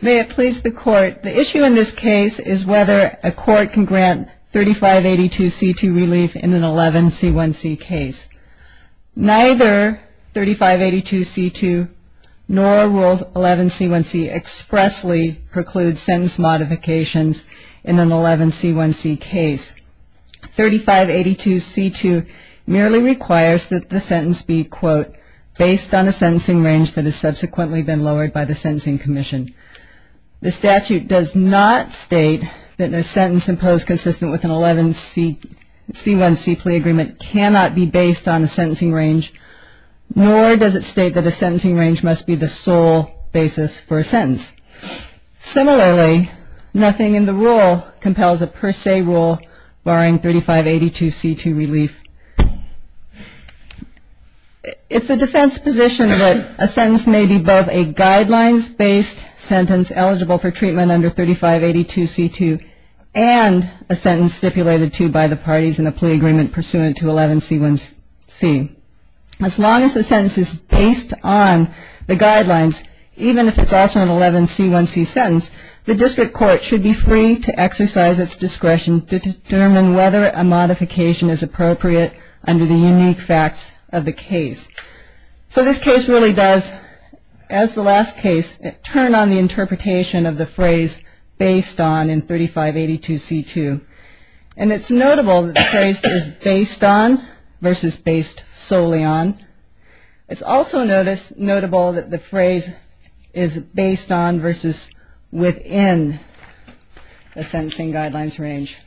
May it please the Court, the issue in this case is whether a court can grant 3582C2 relief in an 11C1C case. Neither 3582C2 nor Rule 11C1C expressly preclude sentence modifications in an 11C1C case. 3582C2 merely requires that the sentence be, quote, based on a sentencing range that has subsequently been lowered by the Sentencing Commission. The statute does not state that a sentence imposed consistent with an 11C1C plea agreement cannot be based on a sentencing range, nor does it state that a sentencing range must be the sole basis for a sentence. Similarly, nothing in the rule compels a per se rule barring 3582C2 relief. It's a defense position that a sentence may be both a guidelines-based sentence eligible for treatment under 3582C2 and a sentence stipulated to by the parties in a plea agreement pursuant to 11C1C. As long as the sentence is based on the guidelines, even if it's also an 11C1C sentence, the district court should be free to exercise its discretion to determine whether a modification is appropriate under the unique facts of the case. So this case really does, as the last case, turn on the interpretation of the phrase, based on, in 3582C2. And it's notable that the phrase is based on versus based solely on. It's also notable that the phrase is based on versus within the sentencing guidelines range.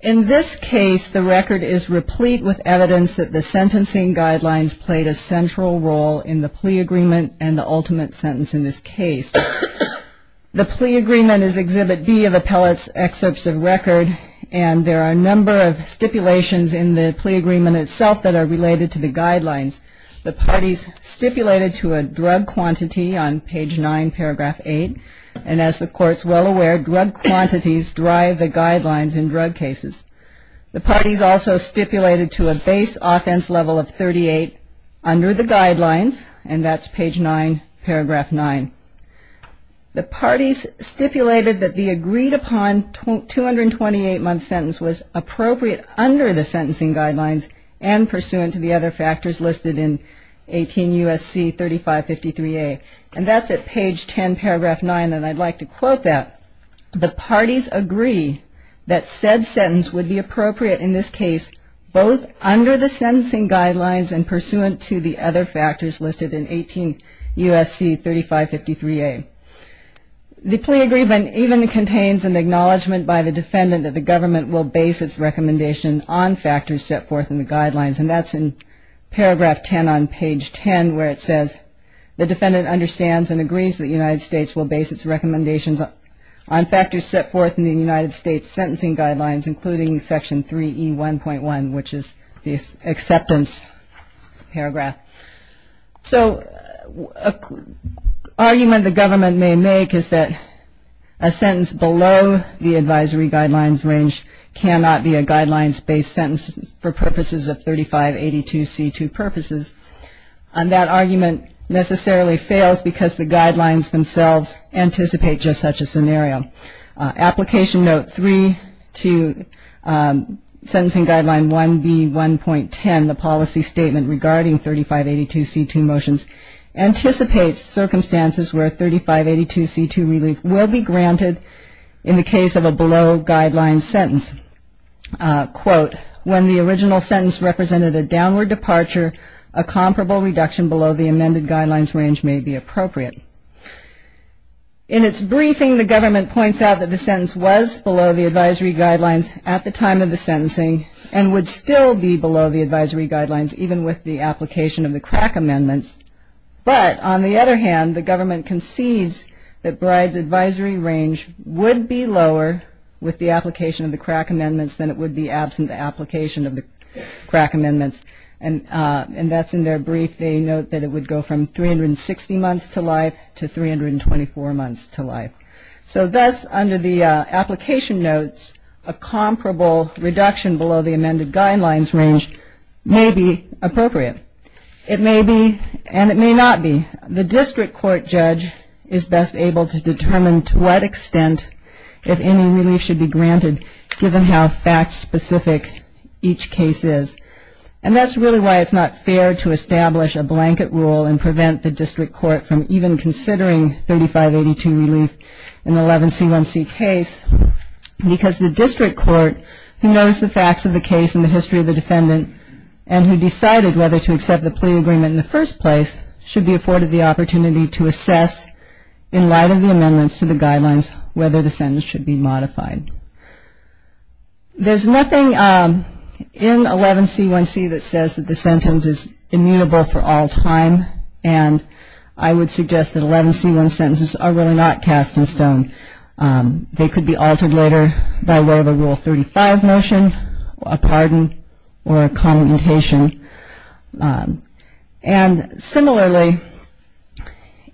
In this case, the record is replete with evidence that the sentencing guidelines played a central role in the plea agreement and the ultimate sentence in this case. The plea agreement is Exhibit B of Appellate's Excerpts of Record, and there are a number of stipulations in the plea agreement itself that are related to the guidelines. The parties stipulated to a drug quantity on page 9, paragraph 8, and as the Court's well aware, drug quantities drive the guidelines. The parties also stipulated to a base offense level of 38 under the guidelines, and that's page 9, paragraph 9. The parties stipulated that the agreed-upon 228-month sentence was appropriate under the sentencing guidelines and pursuant to the other factors listed in 18 U.S.C. 3553A. And that's at page 10, paragraph 9, and I'd like to quote that. The parties agree that said sentence would be appropriate in this case both under the sentencing guidelines and pursuant to the other factors listed in 18 U.S.C. 3553A. The plea agreement even contains an acknowledgment by the defendant that the government will base its recommendation on factors set forth in the guidelines, and that's in paragraph 10 on page 10 where it says, the defendant understands and agrees that the United States will base its recommendations on factors set forth in the guidelines. On factors set forth in the United States sentencing guidelines, including section 3E1.1, which is the acceptance paragraph. So, an argument the government may make is that a sentence below the advisory guidelines range cannot be a guidelines-based sentence for purposes of 3582C2 purposes, and that argument necessarily fails because the guidelines themselves anticipate just such a scenario. Application note 3 to sentencing guideline 1B1.10, the policy statement regarding 3582C2 motions, anticipates circumstances where 3582C2 relief will be granted in the case of a below guidelines sentence. Quote, when the original sentence represented a downward departure, a comparable reduction below the amended guidelines range may be appropriate. In its briefing, the government points out that the sentence was below the advisory guidelines at the time of the sentencing, and would still be below the advisory guidelines even with the application of the crack amendments, but on the other hand, the government concedes that Bride's advisory range would be lower with the application of the crack amendments than it would be absent the application of the crack amendments, and that's in their brief. They note that it would go from 360 months to life to 324 months to life. So, thus, under the application notes, a comparable reduction below the amended guidelines range may be appropriate. It may be, and it may not be. The district court judge is best able to determine to what extent if any relief should be granted, given how fact-specific each case is. And that's really why it's not fair to establish a blanket rule and prevent the district court from even considering 3582 relief in the 11C1C case, because the district court, who knows the facts of the case and the history of the defendant, and who decided whether to accept the plea agreement in the first place, should be afforded the opportunity to assess, in light of the amendments to the guidelines, whether the sentence should be modified. There's nothing in 11C1C that says that the sentence is immutable for all time, and I would suggest that 11C1 sentences are really not cast in stone. They could be altered later by way of a Rule 35 motion, a pardon, or a commutation. And, similarly,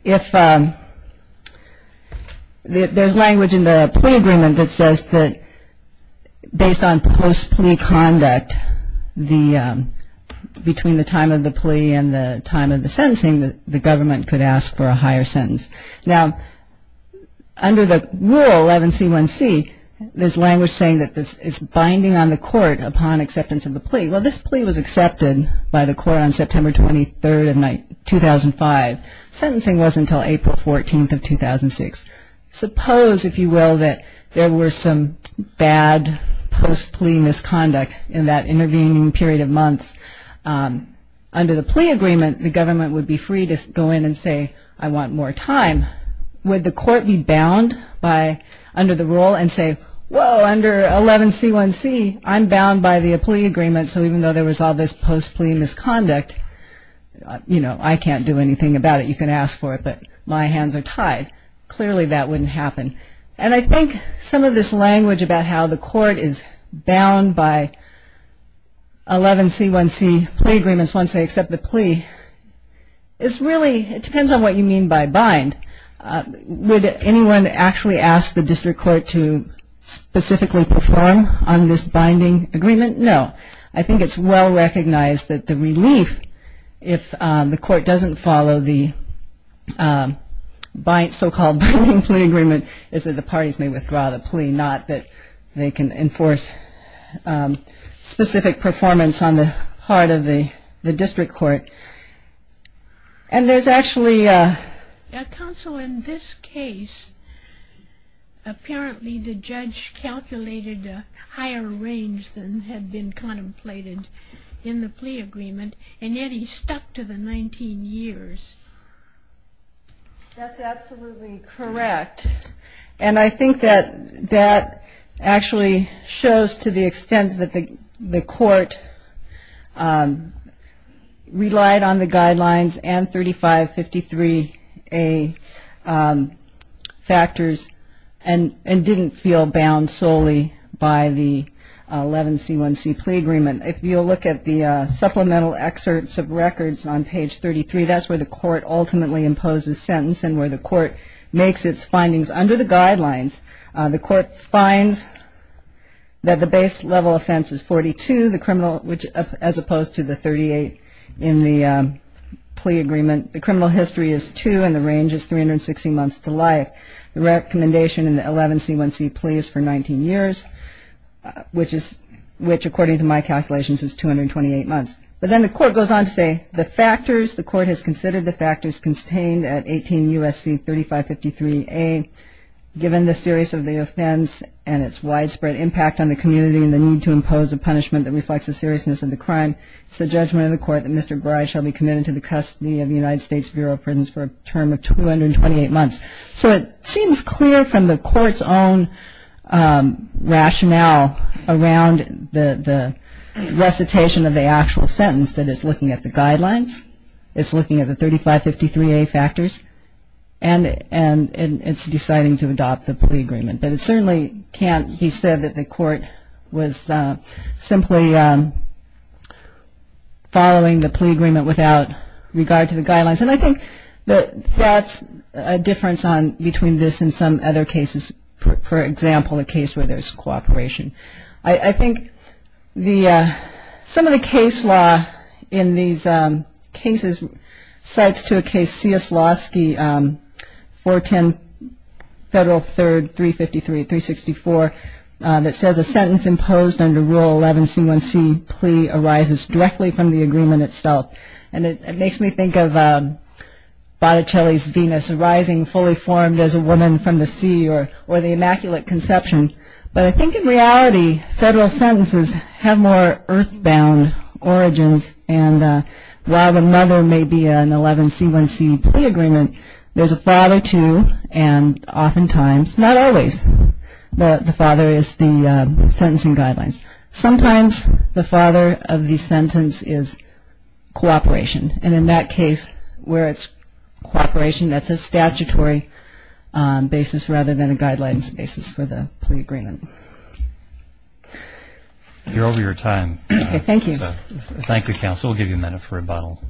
if there's language in the plea agreement that says that based on post-plea conduct, between the time of the plea and the time of the sentencing, the government could ask for a higher sentence. Now, under the Rule 11C1C, there's language saying that it's binding on the court upon acceptance of the plea. Well, this plea was accepted by the court on September 23rd of 2005. Sentencing was until April 14th of 2006. Suppose, if you will, that there were some bad post-plea misconduct in that intervening period of months. Under the plea agreement, the government would be free to go in and say, I want more time. Would the court be bound by, under the rule, and say, whoa, under 11C1C, I'm bound by the plea agreement, so even though there was all this post-plea misconduct, you know, I can't do anything about it. You can ask for it, but my hands are tied. Clearly, that wouldn't happen. And I think some of this language about how the court is bound by 11C1C plea agreements once they accept the plea, it's really, it depends on what you mean by bind. Would anyone actually ask the district court to specifically perform on this binding agreement? No. I think it's well-recognized that the relief, if the court doesn't follow the so-called binding plea agreement, is that the parties may withdraw the plea, not that they can enforce specific performance on the part of the district court. And there's actually a... That's absolutely correct. And I think that that actually shows to the extent that the court relied on the guidelines and 3553A factors and didn't feel bound solely by the 11C1C plea agreement. If you'll look at the supplemental excerpts of records on page 33, that's where the court ultimately imposes sentence and where the court makes its findings under the guidelines. The court finds that the base level offense is 42, the criminal, as opposed to the 38 in the plea agreement. The criminal history is two and the range is 360 months to life. The recommendation in the 11C1C plea is for 19 years, which according to my calculations is 228 months. But then the court goes on to say the factors, the court has considered the factors contained at 18 U.S.C. 3553A, given the serious of the offense and its widespread impact on the community and the need to impose a punishment that reflects the seriousness of the crime. It's the judgment of the court that Mr. Gray shall be committed to the custody of the United States Bureau of Prisons for a term of 228 months. So it seems clear from the court's own rationale around the recitation of the actual sentence that it's looking at the guidelines, it's looking at the 3553A factors, and it's deciding to adopt the plea agreement. But it certainly can't, he said, that the court was simply following the plea agreement without regard to the guidelines. And I think that that's a difference between this and some other cases. For example, a case where there's cooperation. I think some of the case law in these cases cites to a case Cieslawski, 410 Federal 3rd, 353, 364, that says a sentence imposed under Rule 11C1C plea arises directly from the agreement itself. And it makes me think of Botticelli's Venus arising fully formed as a woman from the sea or the immaculate conception. But I think in reality, federal sentences have more earthbound origins. And while another may be an 11C1C plea agreement, there's a father to, and oftentimes, not always, the father is the sentencing guidelines. Sometimes the father of the sentence is cooperation. And in that case, where it's cooperation, that's a statutory basis rather than a guidelines basis for the plea. Thank you, counsel. We'll give you a minute for rebuttal.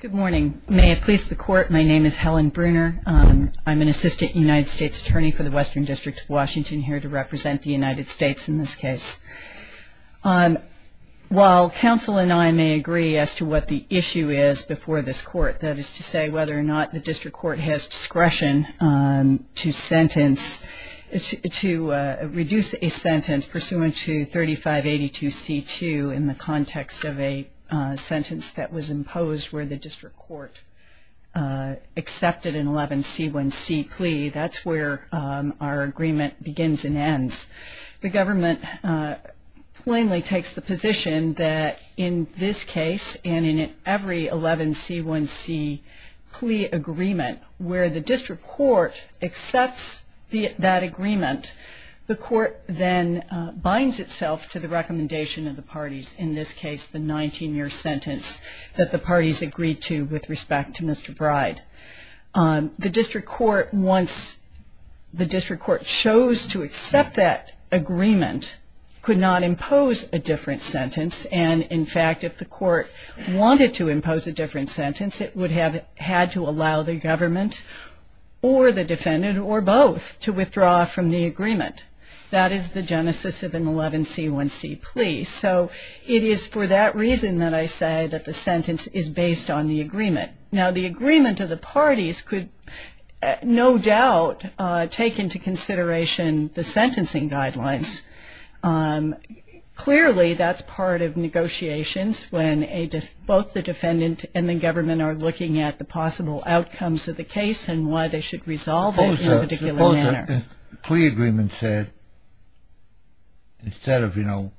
Good morning. May it please the court, my name is Helen Bruner. I'm an assistant United States attorney for the Western District of Washington here to represent the United States in this case. While counsel and I may agree as to what the issue is before this court, that is to say whether or not the district court has discretion to sentence, to reduce a sentence pursuant to 3582C2 in the context of a sentence that was imposed where the district court accepted an 11C1C plea, that's where our agreement begins and ends. The government plainly takes the position that in this case and in every 11C1C plea agreement where the district court accepts that agreement, the court then binds itself to the recommendation of the parties, in this case, the 19-year sentence that the parties agreed to with respect to Mr. Bride. The district court, once the district court chose to accept that agreement, could not impose a different sentence and, in fact, if the court wanted to impose a different sentence, it would have had to allow the government or the defendant or both to withdraw from the agreement. That is the genesis of an 11C1C plea. So it is for that reason that I say that the sentence is based on the agreement. Now, the agreement of the parties could no doubt take into consideration the sentencing guidelines. Clearly, that's part of negotiations when both the defendant and the government are looking at the possible outcomes of the case and why they should resolve it in a particular manner. If the plea agreement said, instead of, you know,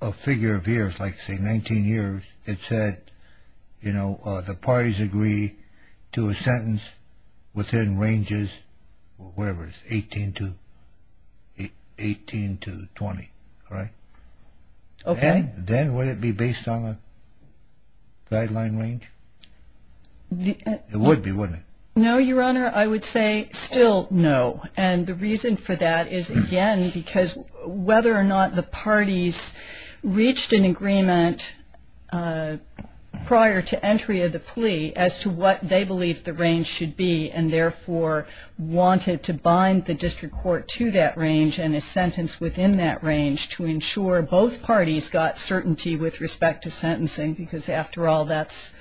a figure of years, like say 19 years, it said, you know, the parties agree to a sentence within ranges, whatever it is, 18 to 20, right? Okay. Then would it be based on a guideline range? It would be, wouldn't it? No, Your Honor. I would say still no. And the reason for that is, again, because whether or not the parties reached an agreement prior to entry of the plea as to what they believe the range should be and, therefore, wanted to bind the district court to that range and a sentence within that range to ensure both parties got certainty with respect to sentencing because, after all, that's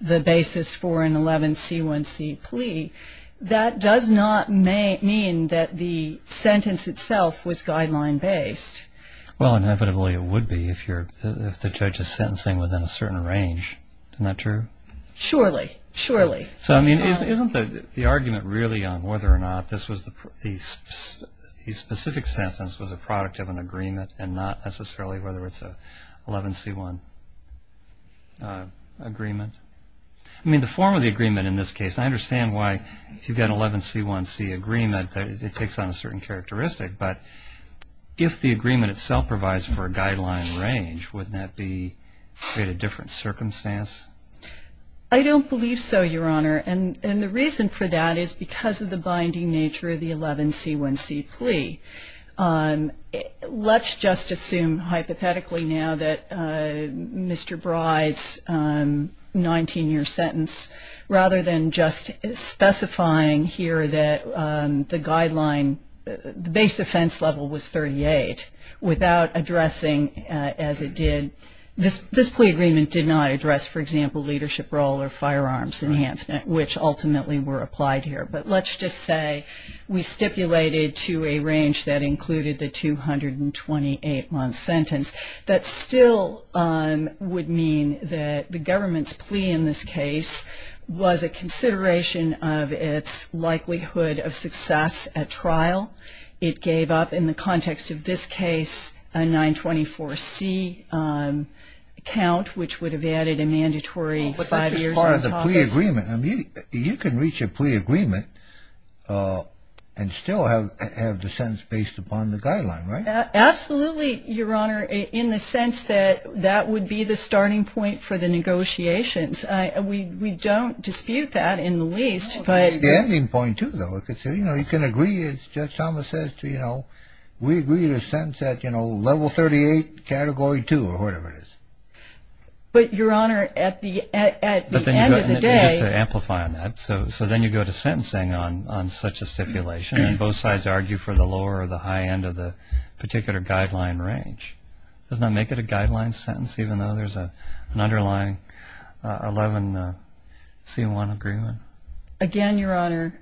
the basis for an 11C1C plea. That does not mean that the sentence itself was guideline-based. Well, inevitably, it would be if the judge is sentencing within a certain range. Isn't that true? Surely. Surely. So, I mean, isn't the argument really on whether or not this specific sentence was a product of an agreement and not necessarily whether it's an 11C1 agreement? I mean, the form of the agreement in this case, I understand why, if you've got an 11C1C agreement, it takes on a certain characteristic. But if the agreement itself provides for a guideline range, wouldn't that create a different circumstance? I don't believe so, Your Honor. And the reason for that is because of the binding nature of the 11C1C plea. Let's just assume hypothetically now that Mr. Bryde's 19-year sentence, rather than just specifying here that the guideline, the base offense level was 38, without addressing, as it did, this plea agreement did not address, for example, leadership role or firearms enhancement, which ultimately were applied here. But let's just say we stipulated to a range that included the 228-month sentence. That still would mean that the government's plea in this case was a consideration of its likelihood of success at trial. It gave up, in the context of this case, a 924C count, which would have added a mandatory five years on the topic. So you can reach a plea agreement and still have the sentence based upon the guideline, right? Absolutely, Your Honor, in the sense that that would be the starting point for the negotiations. We don't dispute that, in the least. It's the ending point, too, though. You can agree, as Judge Thomas says, we agree to a sentence at level 38, category 2, or whatever it is. But, Your Honor, at the end of the day- Just to amplify on that. So then you go to sentencing on such a stipulation, and both sides argue for the lower or the high end of the particular guideline range. Does that make it a guideline sentence, even though there's an underlying 11C1 agreement? Again, Your Honor,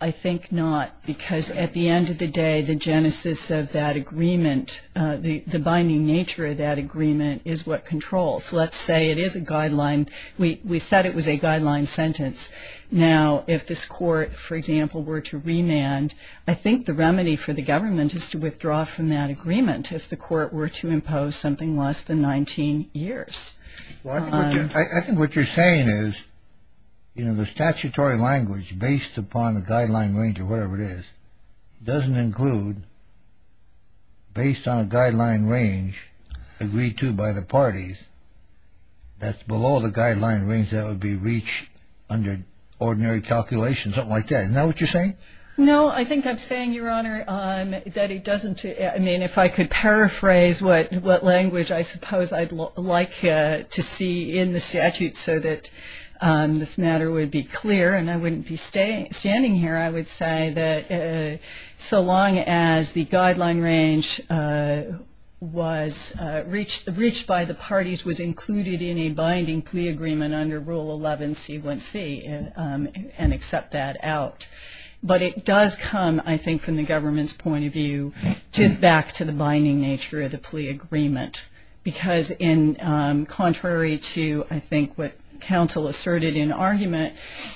I think not. Because at the end of the day, the genesis of that agreement, the binding nature of that agreement, is what controls. Let's say it is a guideline. We said it was a guideline sentence. Now, if this court, for example, were to remand, I think the remedy for the government is to withdraw from that agreement, if the court were to impose something less than 19 years. I think what you're saying is, you know, the statutory language, based upon the guideline range or whatever it is, doesn't include, based on a guideline range agreed to by the parties, that's below the guideline range that would be reached under ordinary calculations, something like that. Isn't that what you're saying? No, I think I'm saying, Your Honor, that it doesn't- I mean, if I could paraphrase what language I suppose I'd like to see in the statute so that this matter would be clear and I wouldn't be standing here, I would say that so long as the guideline range was reached by the parties, was included in a binding plea agreement under Rule 11C1C and accept that out. But it does come, I think, from the government's point of view back to the binding nature of the plea agreement, because contrary to, I think, what counsel asserted in argument,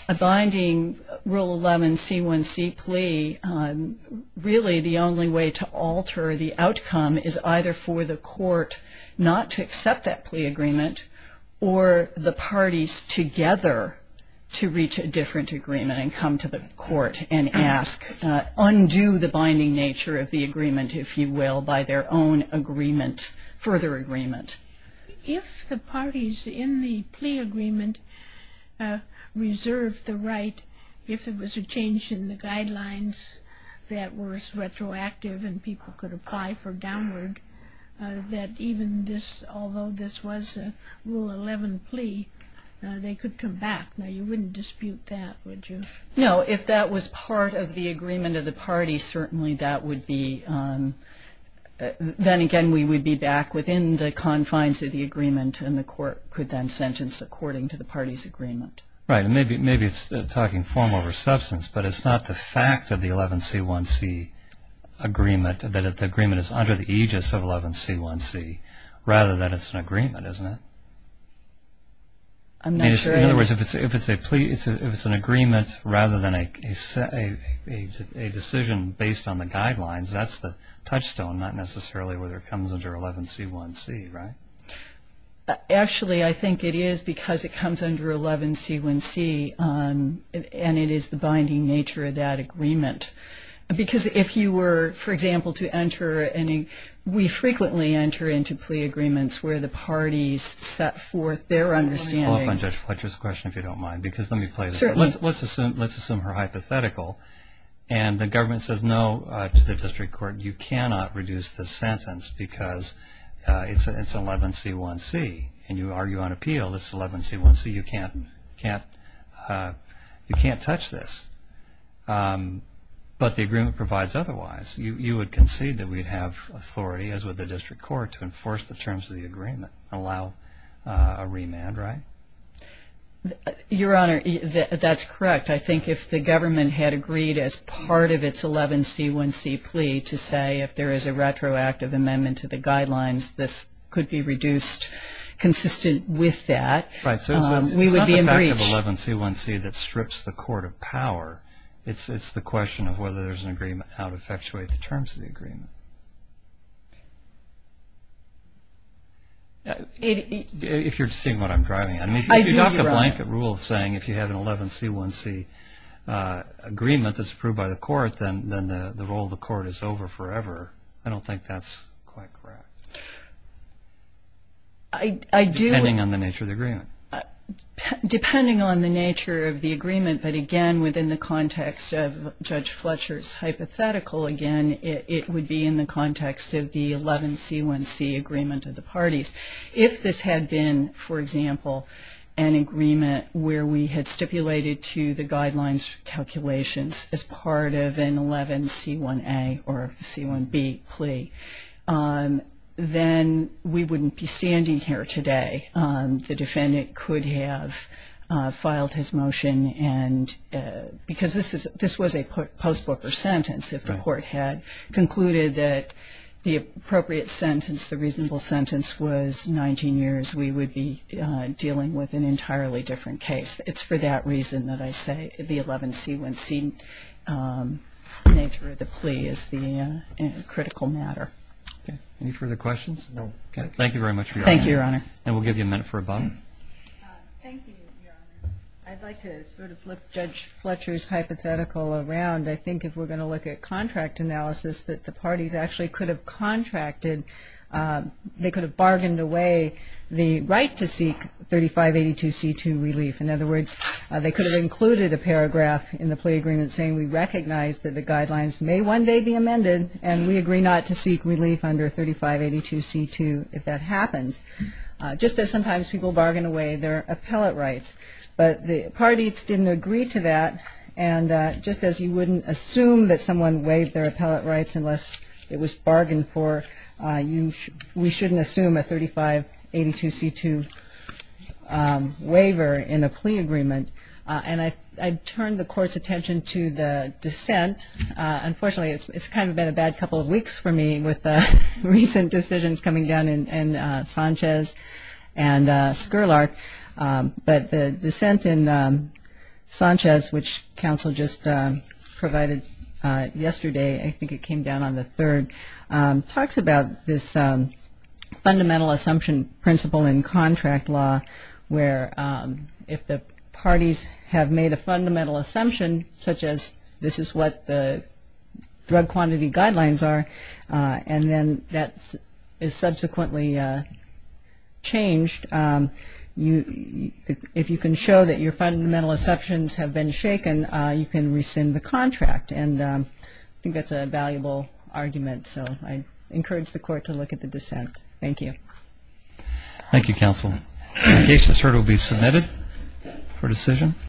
a binding Rule 11C1C plea, really the only way to alter the outcome is either for the court not to accept that plea agreement or the parties together to reach a different agreement and come to the court and ask, undo the binding nature of the agreement, if you will, by their own agreement, further agreement. If the parties in the plea agreement reserved the right, if it was a change in the guidelines that was retroactive and people could apply for downward, that even this, although this was a Rule 11 plea, they could come back. Now, you wouldn't dispute that, would you? No. If that was part of the agreement of the parties, certainly that would be, then again we would be back within the confines of the agreement and the court could then sentence according to the party's agreement. Right. And maybe it's talking form over substance, but it's not the fact of the 11C1C agreement that the agreement is under the aegis of 11C1C rather than it's an agreement, isn't it? I'm not sure. In other words, if it's an agreement rather than a decision based on the guidelines, that's the touchstone, not necessarily whether it comes under 11C1C, right? Actually, I think it is because it comes under 11C1C and it is the binding nature of that agreement. Because if you were, for example, to enter any, we frequently enter into plea agreements where the parties set forth their understanding. Let me follow up on Judge Fletcher's question, if you don't mind, because let me play this. Let's assume her hypothetical and the government says no to the district court, you cannot reduce the sentence because it's 11C1C and you argue on appeal, this is 11C1C, you can't touch this. But the agreement provides otherwise. You would concede that we'd have authority, as would the district court, to enforce the terms of the agreement and allow a remand, right? Your Honor, that's correct. I think if the government had agreed as part of its 11C1C plea to say if there is a retroactive amendment to the guidelines, this could be reduced consistent with that, we would be in breach. Right, so it's not the fact of 11C1C that strips the court of power. It's the question of whether there's an agreement, how to effectuate the terms of the agreement. If you're seeing what I'm driving at. I do, Your Honor. If you adopt the blanket rule saying if you have an 11C1C agreement that's approved by the court, then the role of the court is over forever, I don't think that's quite correct. I do. Depending on the nature of the agreement. Depending on the nature of the agreement, but again, within the context of Judge Fletcher's hypothetical, again, it would be in the context of the 11C1C agreement of the parties. If this had been, for example, an agreement where we had stipulated to the guidelines calculations as part of an 11C1A or C1B plea, then we wouldn't be standing here today. The defendant could have filed his motion because this was a post-booker sentence. If the court had concluded that the appropriate sentence, the reasonable sentence, was 19 years, we would be dealing with an entirely different case. It's for that reason that I say the 11C1C nature of the plea is a critical matter. Any further questions? No. Thank you very much, Your Honor. Thank you, Your Honor. And we'll give you a minute for a button. Thank you, Your Honor. I'd like to sort of flip Judge Fletcher's hypothetical around. I think if we're going to look at contract analysis that the parties actually could have contracted, they could have bargained away the right to seek 3582C2 relief. In other words, they could have included a paragraph in the plea agreement saying, we recognize that the guidelines may one day be amended, and we agree not to seek relief under 3582C2 if that happens, just as sometimes people bargain away their appellate rights. But the parties didn't agree to that, and just as you wouldn't assume that someone waived their appellate rights unless it was bargained for, we shouldn't assume a 3582C2 waiver in a plea agreement. And I turned the Court's attention to the dissent. Unfortunately, it's kind of been a bad couple of weeks for me with the recent decisions coming down in Sanchez and Skerlark. But the dissent in Sanchez, which counsel just provided yesterday, I think it came down on the 3rd, talks about this fundamental assumption principle in contract law, where if the parties have made a fundamental assumption, such as this is what the drug quantity guidelines are, and then that is subsequently changed, if you can show that your fundamental assumptions have been shaken, you can rescind the contract. And I think that's a valuable argument, so I encourage the Court to look at the dissent. Thank you. Thank you, counsel. The case is heard and will be submitted for decision.